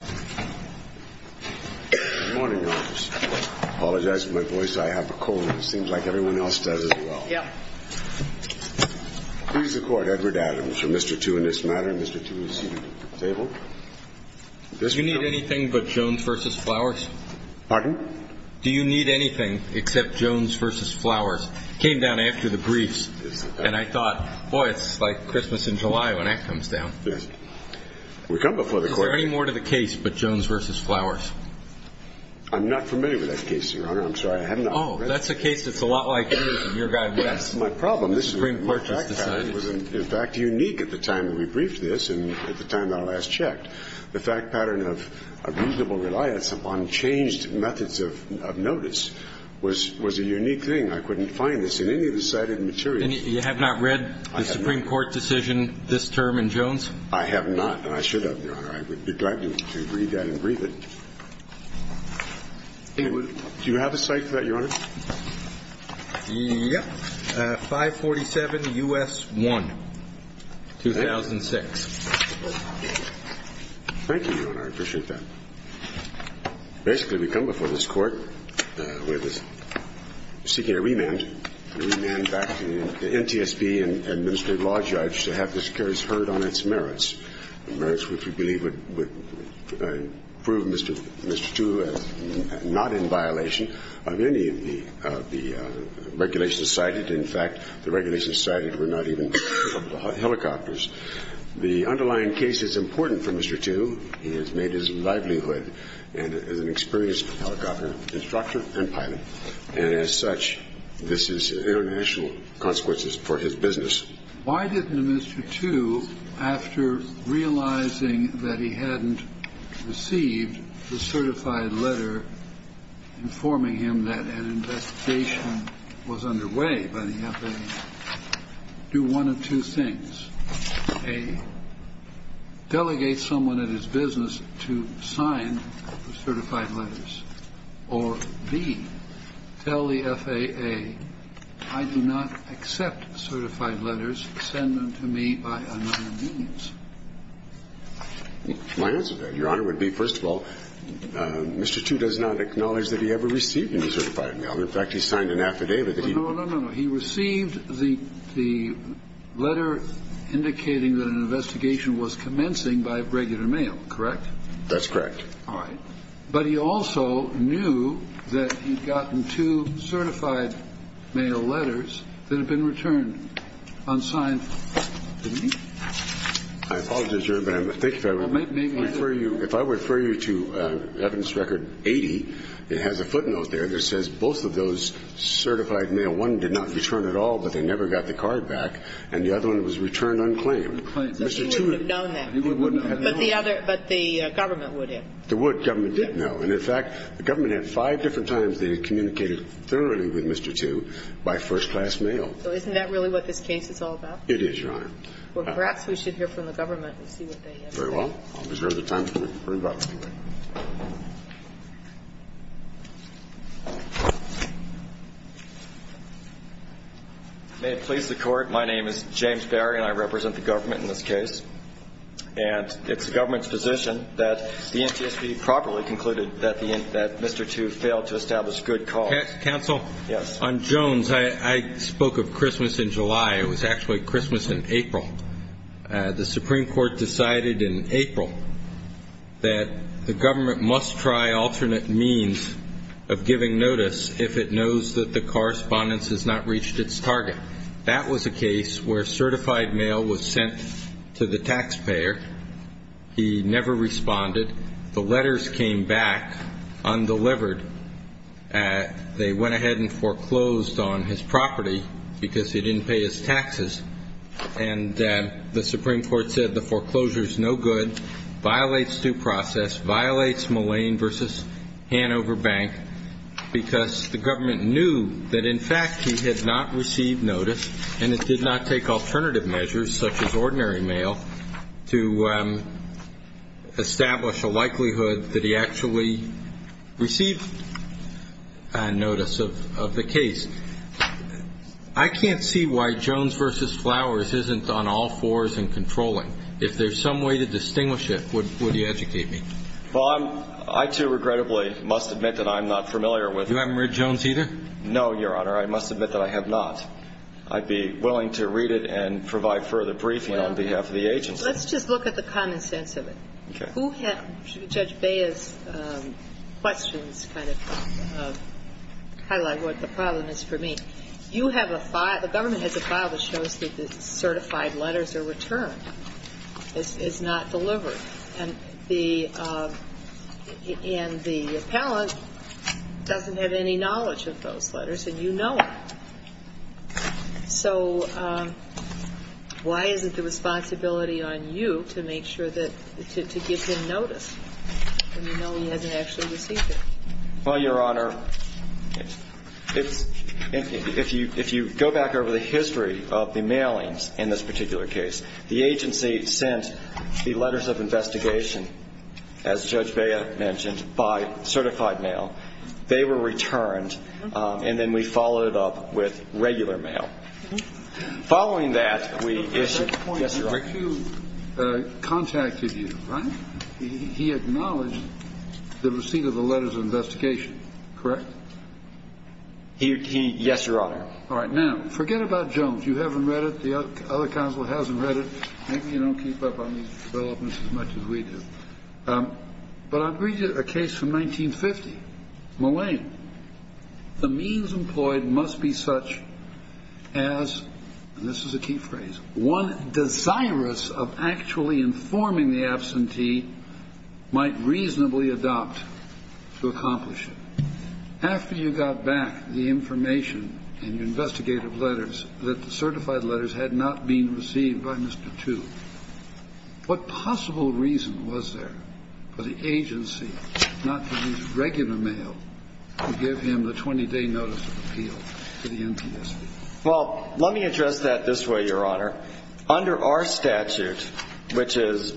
Good morning. I apologize for my voice. I have a cold and it seems like everyone else does as well. Who's the court? Edward Adams for Mr. Tu in this matter. Mr. Tu is seated at the table. Do you need anything but Jones v. Flowers? Pardon? Do you need anything except Jones v. Flowers? It came down after the briefs. And I thought, boy, it's like Christmas in July when that comes down. Yes. We come before the court. Is there any more to the case but Jones v. Flowers? I'm not familiar with that case, Your Honor. I'm sorry. I have not read it. Oh, that's a case that's a lot like yours and your guy West. That's my problem. This Supreme Court has decided. The fact pattern was, in fact, unique at the time that we briefed this and at the time that I last checked. The fact pattern of a reasonable reliance upon changed methods of notice was a unique thing. I couldn't find this in any of the cited materials. And you have not read the Supreme Court decision this term in Jones? I have not and I should have, Your Honor. I would be glad to read that and brief it. Do you have a cite for that, Your Honor? Yes. 547 U.S. 1, 2006. Thank you, Your Honor. I appreciate that. Basically, we come before this Court seeking a remand. A remand back to the NTSB and administrative law judge to have the securities heard on its merits, merits which we believe would prove Mr. Tu as not in violation of any of the regulations cited. In fact, the regulations cited were not even helicopters. The underlying case is important for Mr. Tu. He has made his livelihood as an experienced helicopter instructor and pilot. And as such, this is international consequences for his business. Why didn't Mr. Tu, after realizing that he hadn't received the certified letter, informing him that an investigation was underway by the FAA, do one of two things. A, delegate someone at his business to sign the certified letters. Or B, tell the FAA, I do not accept certified letters. Send them to me by another means. My answer to that, Your Honor, would be, first of all, Mr. Tu does not acknowledge that he ever received any certified mail. In fact, he signed an affidavit that he was. No, no, no, no. He received the letter indicating that an investigation was commencing by regular mail, correct? That's correct. All right. But he also knew that he'd gotten two certified mail letters that had been returned unclaimed. So he would have known that. He wouldn't have known that. But the government would have. The government did know. And in fact, the government had five different times they had communicated thoroughly with Mr. Tu by first-class mail. They were communicating thoroughly with Mr. Tu. They were communicating thoroughly with Mr. Tu. It is, Your Honor. Well, perhaps we should hear from the government and see what they have to say. Very well. I'll just wait for the time to bring it up. May it please the Court, my name is James Barry, and I represent the government in this case. And it's the government's position that the NTSB properly concluded that Mr. Tu failed to establish good cause. Counsel? Yes. On Jones, I spoke of Christmas in July. It was actually Christmas in April. The Supreme Court decided in April that the government must try alternate means of giving notice if it knows that the correspondence has not reached its target. That was a case where certified mail was sent to the taxpayer. He never responded. The letters came back undelivered. They went ahead and foreclosed on his property because he didn't pay his taxes. And the Supreme Court said the foreclosure is no good, violates due process, violates Mullane v. Hanover Bank because the government knew that, in fact, he had not received notice, and it did not take alternative measures, such as ordinary mail, to establish a likelihood that he actually received notice of the case. I can't see why Jones v. Flowers isn't on all fours in controlling. If there's some way to distinguish it, would you educate me? Well, I too, regrettably, must admit that I'm not familiar with it. You haven't read Jones either? No, Your Honor. I must admit that I have not. I'd be willing to read it and provide further briefing on behalf of the agency. Let's just look at the common sense of it. Okay. Who had Judge Bea's questions kind of highlight what the problem is for me? You have a file, the government has a file that shows that the certified letters are returned, is not delivered. And the appellant doesn't have any knowledge of those letters, and you know it. So why is it the responsibility on you to make sure that to give him notice when you know he hasn't actually received it? Well, Your Honor, if you go back over the history of the mailings in this particular case, the agency sent the letters of investigation, as Judge Bea mentioned, by certified mail. They were returned, and then we followed it up with regular mail. Following that, we issued, yes, Your Honor. But at that point, McHugh contacted you, right? He acknowledged the receipt of the letters of investigation, correct? He, yes, Your Honor. All right. Now, forget about Jones. You haven't read it. The other counsel hasn't read it. Maybe you don't keep up on these developments as much as we do. But I'll read you a case from 1950, Mullane. The means employed must be such as, and this is a key phrase, one desirous of actually informing the absentee might reasonably adopt to accomplish it. After you got back the information in your investigative letters that the certified letters had not been received by Mr. Two, what possible reason was there for the agency not to use regular mail to give him the 20-day notice of appeal to the NTSB? Well, let me address that this way, Your Honor. Under our statute, which is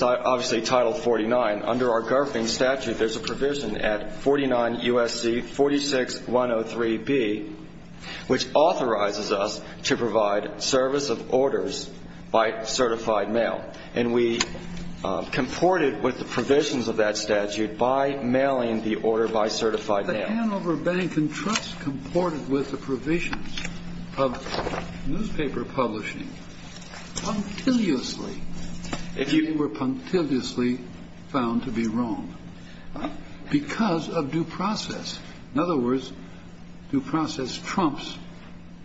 obviously Title 49, under our governing statute there's a provision at 49 U.S.C. 46103B, which authorizes us to provide service of orders by certified mail. And we comported with the provisions of that statute by mailing the order by certified mail. But the Hanover Bank and Trust comported with the provisions of newspaper publishing punctiliously, they were punctiliously found to be wrong because of due process. In other words, due process trumps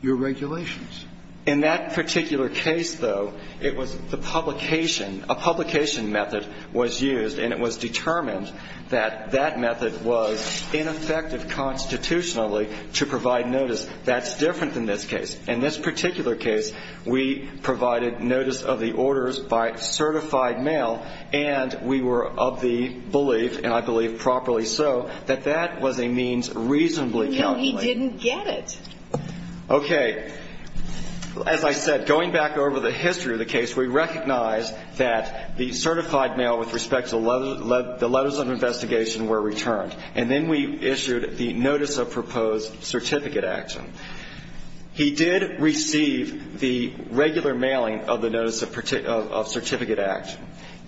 your regulations. In that particular case, though, it was the publication, a publication method was used, and it was determined that that method was ineffective constitutionally to provide notice. That's different than this case. In this particular case, we provided notice of the orders by certified mail, and we were of the belief, and I believe properly so, that that was a means reasonably calculated. No, he didn't get it. Okay. As I said, going back over the history of the case, we recognized that the certified mail with respect to the letters of investigation were returned. And then we issued the notice of proposed certificate action. He did receive the regular mailing of the notice of certificate action.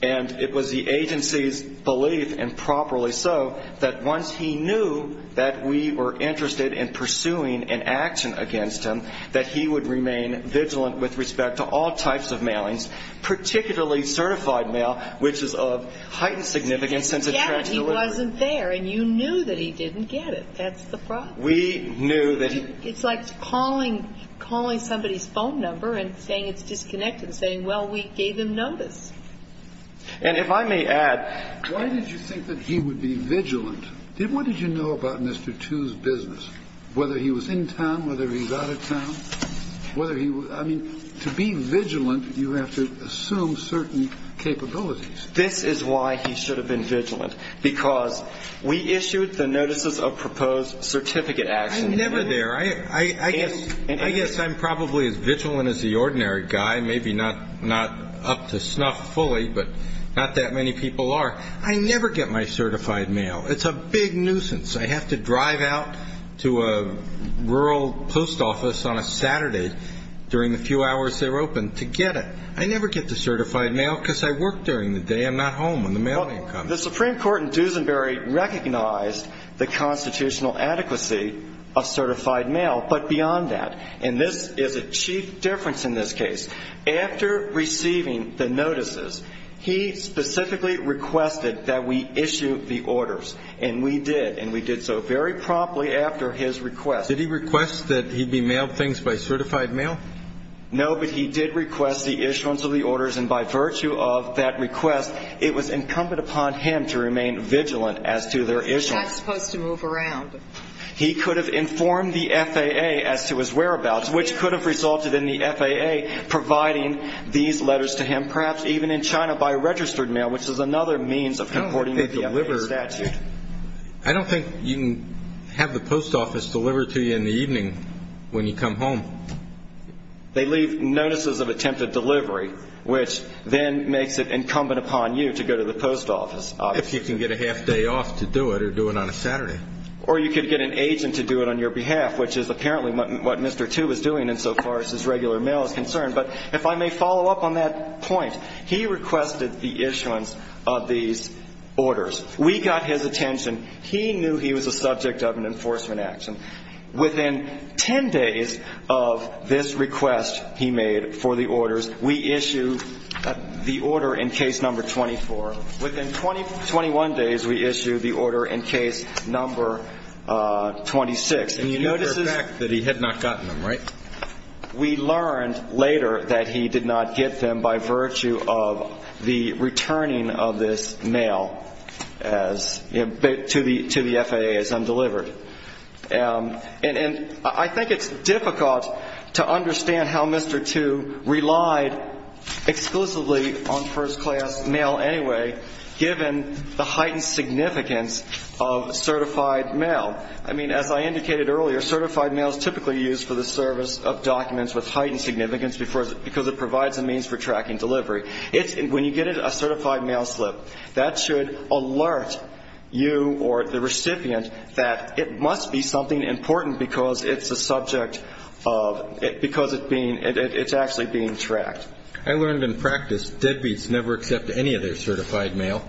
And it was the agency's belief, and properly so, that once he knew that we were interested in pursuing an action against him, that he would remain vigilant with respect to all types of mailings, particularly certified mail, which is of heightened significance and to track delivery. He didn't get it. He wasn't there, and you knew that he didn't get it. That's the problem. We knew that he It's like calling somebody's phone number and saying it's disconnected, saying, well, we gave him notice. And if I may add, why did you think that he would be vigilant? What did you know about Mr. Tu's business, whether he was in town, whether he was out of town? Whether he was – I mean, to be vigilant, you have to assume certain capabilities. This is why he should have been vigilant, because we issued the notices of proposed certificate action. I'm never there. I guess I'm probably as vigilant as the ordinary guy, maybe not up to snuff fully, but not that many people are. I never get my certified mail. It's a big nuisance. I have to drive out to a rural post office on a Saturday during the few hours they're open to get it. I never get the certified mail because I work during the day. I'm not home when the mailman comes. The Supreme Court in Duesenberg recognized the constitutional adequacy of certified mail, but beyond that. And this is a chief difference in this case. After receiving the notices, he specifically requested that we issue the orders. And we did, and we did so very promptly after his request. Did he request that he be mailed things by certified mail? No, but he did request the issuance of the orders. And by virtue of that request, it was incumbent upon him to remain vigilant as to their issuance. He's not supposed to move around. He could have informed the FAA as to his whereabouts, which could have resulted in the FAA providing these letters to him, perhaps even in China by registered mail, which is another means of supporting the FAA statute. I don't think you can have the post office deliver to you in the evening when you come home. They leave notices of attempted delivery, which then makes it incumbent upon you to go to the post office. If you can get a half day off to do it or do it on a Saturday. Or you could get an agent to do it on your behalf, which is apparently what Mr. Tu was doing insofar as his regular mail is concerned. But if I may follow up on that point, he requested the issuance of these orders. We got his attention. He knew he was a subject of an enforcement action. Within 10 days of this request he made for the orders, we issue the order in case number 24. Within 21 days, we issue the order in case number 26. And you notice the fact that he had not gotten them, right? We learned later that he did not get them by virtue of the returning of this mail to the FAA as undelivered. And I think it's difficult to understand how Mr. Tu relied exclusively on first class mail anyway, given the heightened significance of certified mail. I mean, as I indicated earlier, certified mail is typically used for the service of documents with heightened significance because it provides a means for tracking delivery. When you get a certified mail slip, that should alert you or the recipient that it must be something important because it's a subject of ‑‑ because it's actually being tracked. I learned in practice, deadbeats never accept any of their certified mail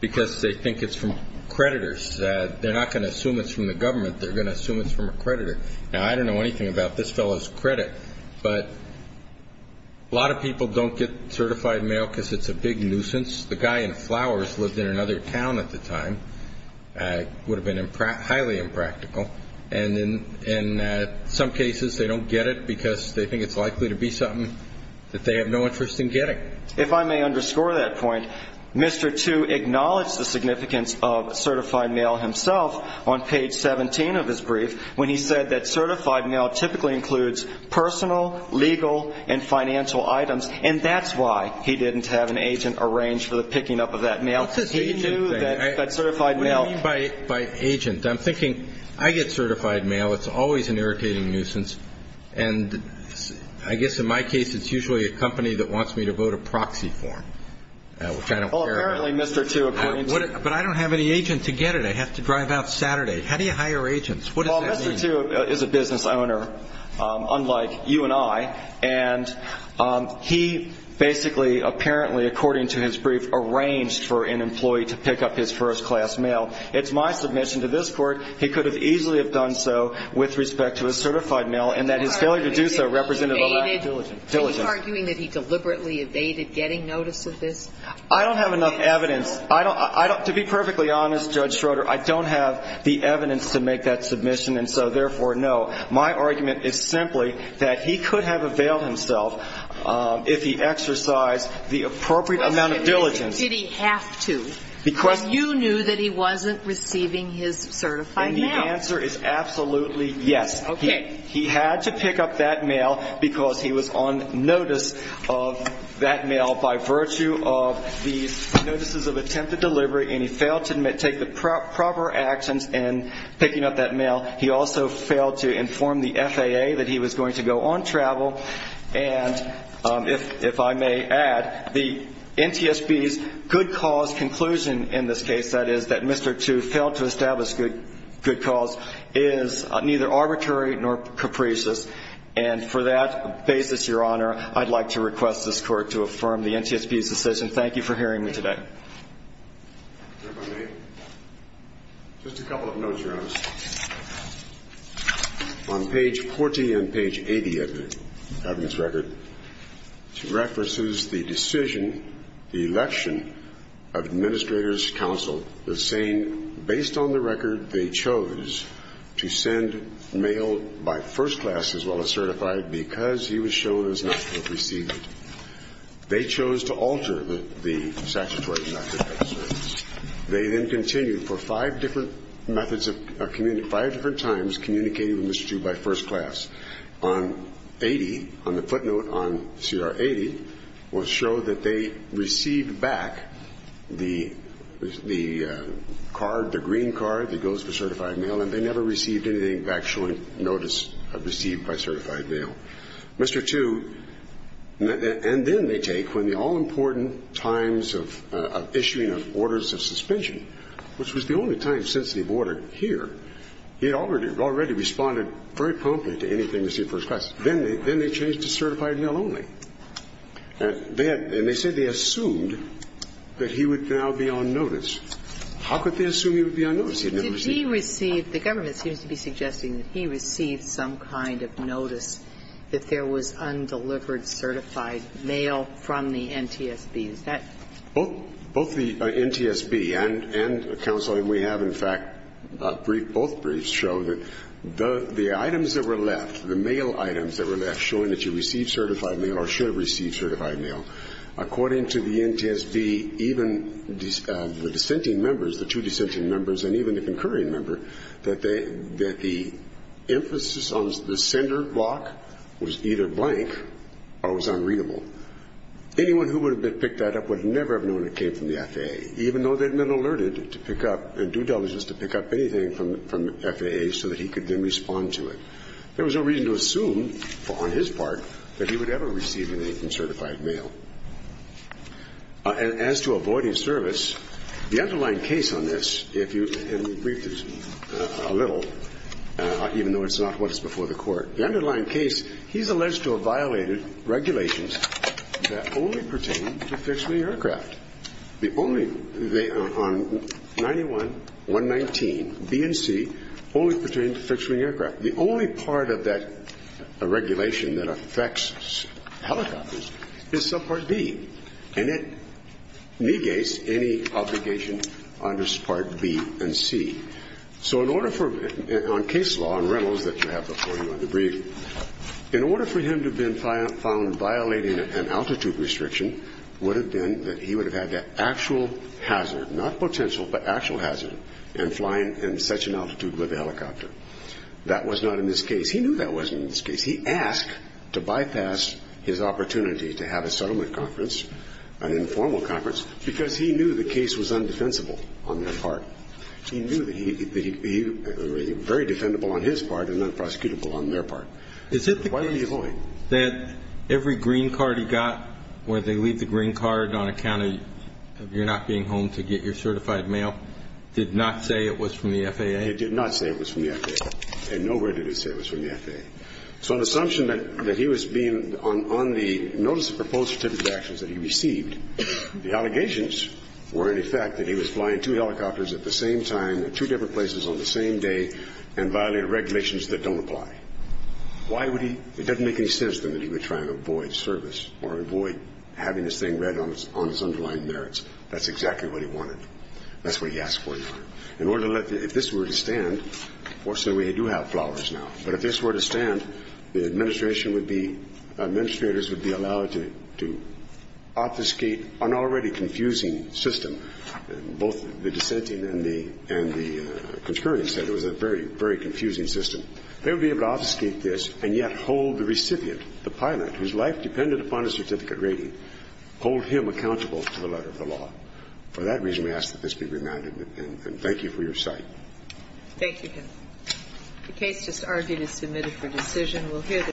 because they think it's from creditors. They're not going to assume it's from the government. They're going to assume it's from a creditor. Now, I don't know anything about this fellow's credit, but a lot of people don't get certified mail because it's a big nuisance. The guy in flowers lived in another town at the time. It would have been highly impractical. And in some cases, they don't get it because they think it's likely to be something that they have no interest in getting. If I may underscore that point, Mr. Tu acknowledged the significance of certified mail himself on page 17 of his brief when he said that certified mail typically includes personal, legal, and financial items. And that's why he didn't have an agent arrange for the picking up of that mail. He knew that certified mail ‑‑ What do you mean by agent? I'm thinking I get certified mail. It's always an irritating nuisance. And I guess in my case, it's usually a company that wants me to vote a proxy form, which I don't care about. But I don't have any agent to get it. I have to drive out Saturday. How do you hire agents? What does that mean? Well, Mr. Tu is a business owner, unlike you and I. And he basically, apparently, according to his brief, arranged for an employee to pick up his first class mail. It's my submission to this court. He could have easily have done so with respect to a certified mail and that his failure to do so represented a lack of diligence. Are you arguing that he deliberately evaded getting notice of this? I don't have enough evidence. To be perfectly honest, Judge Schroeder, I don't have the evidence to make that submission. And so, therefore, no. My argument is simply that he could have availed himself if he exercised the appropriate amount of diligence. Did he have to? You knew that he wasn't receiving his certified mail. And the answer is absolutely yes. Okay. He had to pick up that mail because he was on notice of that mail by virtue of the notices of attempted delivery. And he failed to take the proper actions in picking up that mail. He also failed to inform the FAA that he was going to go on travel. And if I may add, the NTSB's good cause conclusion in this case, that is, that Mr. Tooth failed to establish good cause, is neither arbitrary nor capricious. And for that basis, Your Honor, I'd like to request this court to affirm the NTSB's decision. Thank you for hearing me today. If I may, just a couple of notes, Your Honor. On page 40 and page 80 of the evidence record, it references the decision, the election of Administrator's Counsel, the same based on the record they chose to send mail by first class as well as certified because he was shown as not to have received it. They chose to alter the statutory method. They then continued for five different methods of, five different times communicating with Mr. Tooth by first class. On 80, on the footnote on CR 80, will show that they received back the card, the green card that goes for certified mail, and they never received anything back showing notice of received by certified mail. Mr. Tooth, and then they take, when the all-important times of issuing of orders of suspension, which was the only time since the order here, he had already responded very promptly to anything received first class. Then they changed to certified mail only. And they had, and they said they assumed that he would now be on notice. How could they assume he would be on notice? I mean, did he receive, the government seems to be suggesting that he received some kind of notice that there was undelivered certified mail from the NTSB. Is that? Both the NTSB and Counsel, and we have, in fact, a brief, both briefs show that the items that were left, the mail items that were left showing that you received certified mail or should receive certified mail, according to the NTSB, even the dissenting members, the two dissenting members, and even the concurring member, that the emphasis on the sender block was either blank or was unreadable. Anyone who would have picked that up would never have known it came from the FAA, even though they had been alerted to pick up, and due diligence to pick up anything from FAA so that he could then respond to it. There was no reason to assume, on his part, that he would ever receive anything from certified mail. As to avoiding service, the underlying case on this, if you, and we briefed this a little, even though it's not what's before the Court, the underlying case, he's alleged to have violated regulations that only pertain to fixed-wing aircraft. The only, they, on 91-119, B and C, only pertain to fixed-wing aircraft. The only part of that regulation that affects helicopters is subpart B, and it negates any obligation under part B and C. So in order for, on case law, on rentals that you have before you on the brief, in order for him to have been found violating an altitude restriction would have been that he would have had the actual hazard, not potential, but actual hazard in flying in such an altitude with a helicopter. That was not in this case. He knew that wasn't in this case. He asked to bypass his opportunity to have a settlement conference, an informal conference, because he knew the case was undefensible on their part. He knew that he, very defendable on his part and unprosecutable on their part. Why were you going? That every green card he got, where they leave the green card on account of you not being home to get your certified mail, did not say it was from the FAA? It did not say it was from the FAA. Nowhere did it say it was from the FAA. So an assumption that he was being, on the notice of proposed certificate of actions that he received, the allegations were, in effect, that he was flying two helicopters at the same time in two different places on the same day and violating regulations that don't apply. Why would he? It doesn't make any sense to him that he would try and avoid service or avoid having this thing read on his underlying merits. That's exactly what he wanted. That's what he asked for. If this were to stand, fortunately we do have flowers now, but if this were to stand, the administration would be, administrators would be allowed to obfuscate an already confusing system. Both the dissenting and the concurring said it was a very, very confusing system. They would be able to obfuscate this and yet hold the recipient, the pilot whose life depended upon a certificate rating, hold him accountable to the letter of the law. For that reason, we ask that this be remanded. And thank you for your sight. Thank you, Your Honor. The case just argued is submitted for decision. We'll hear the.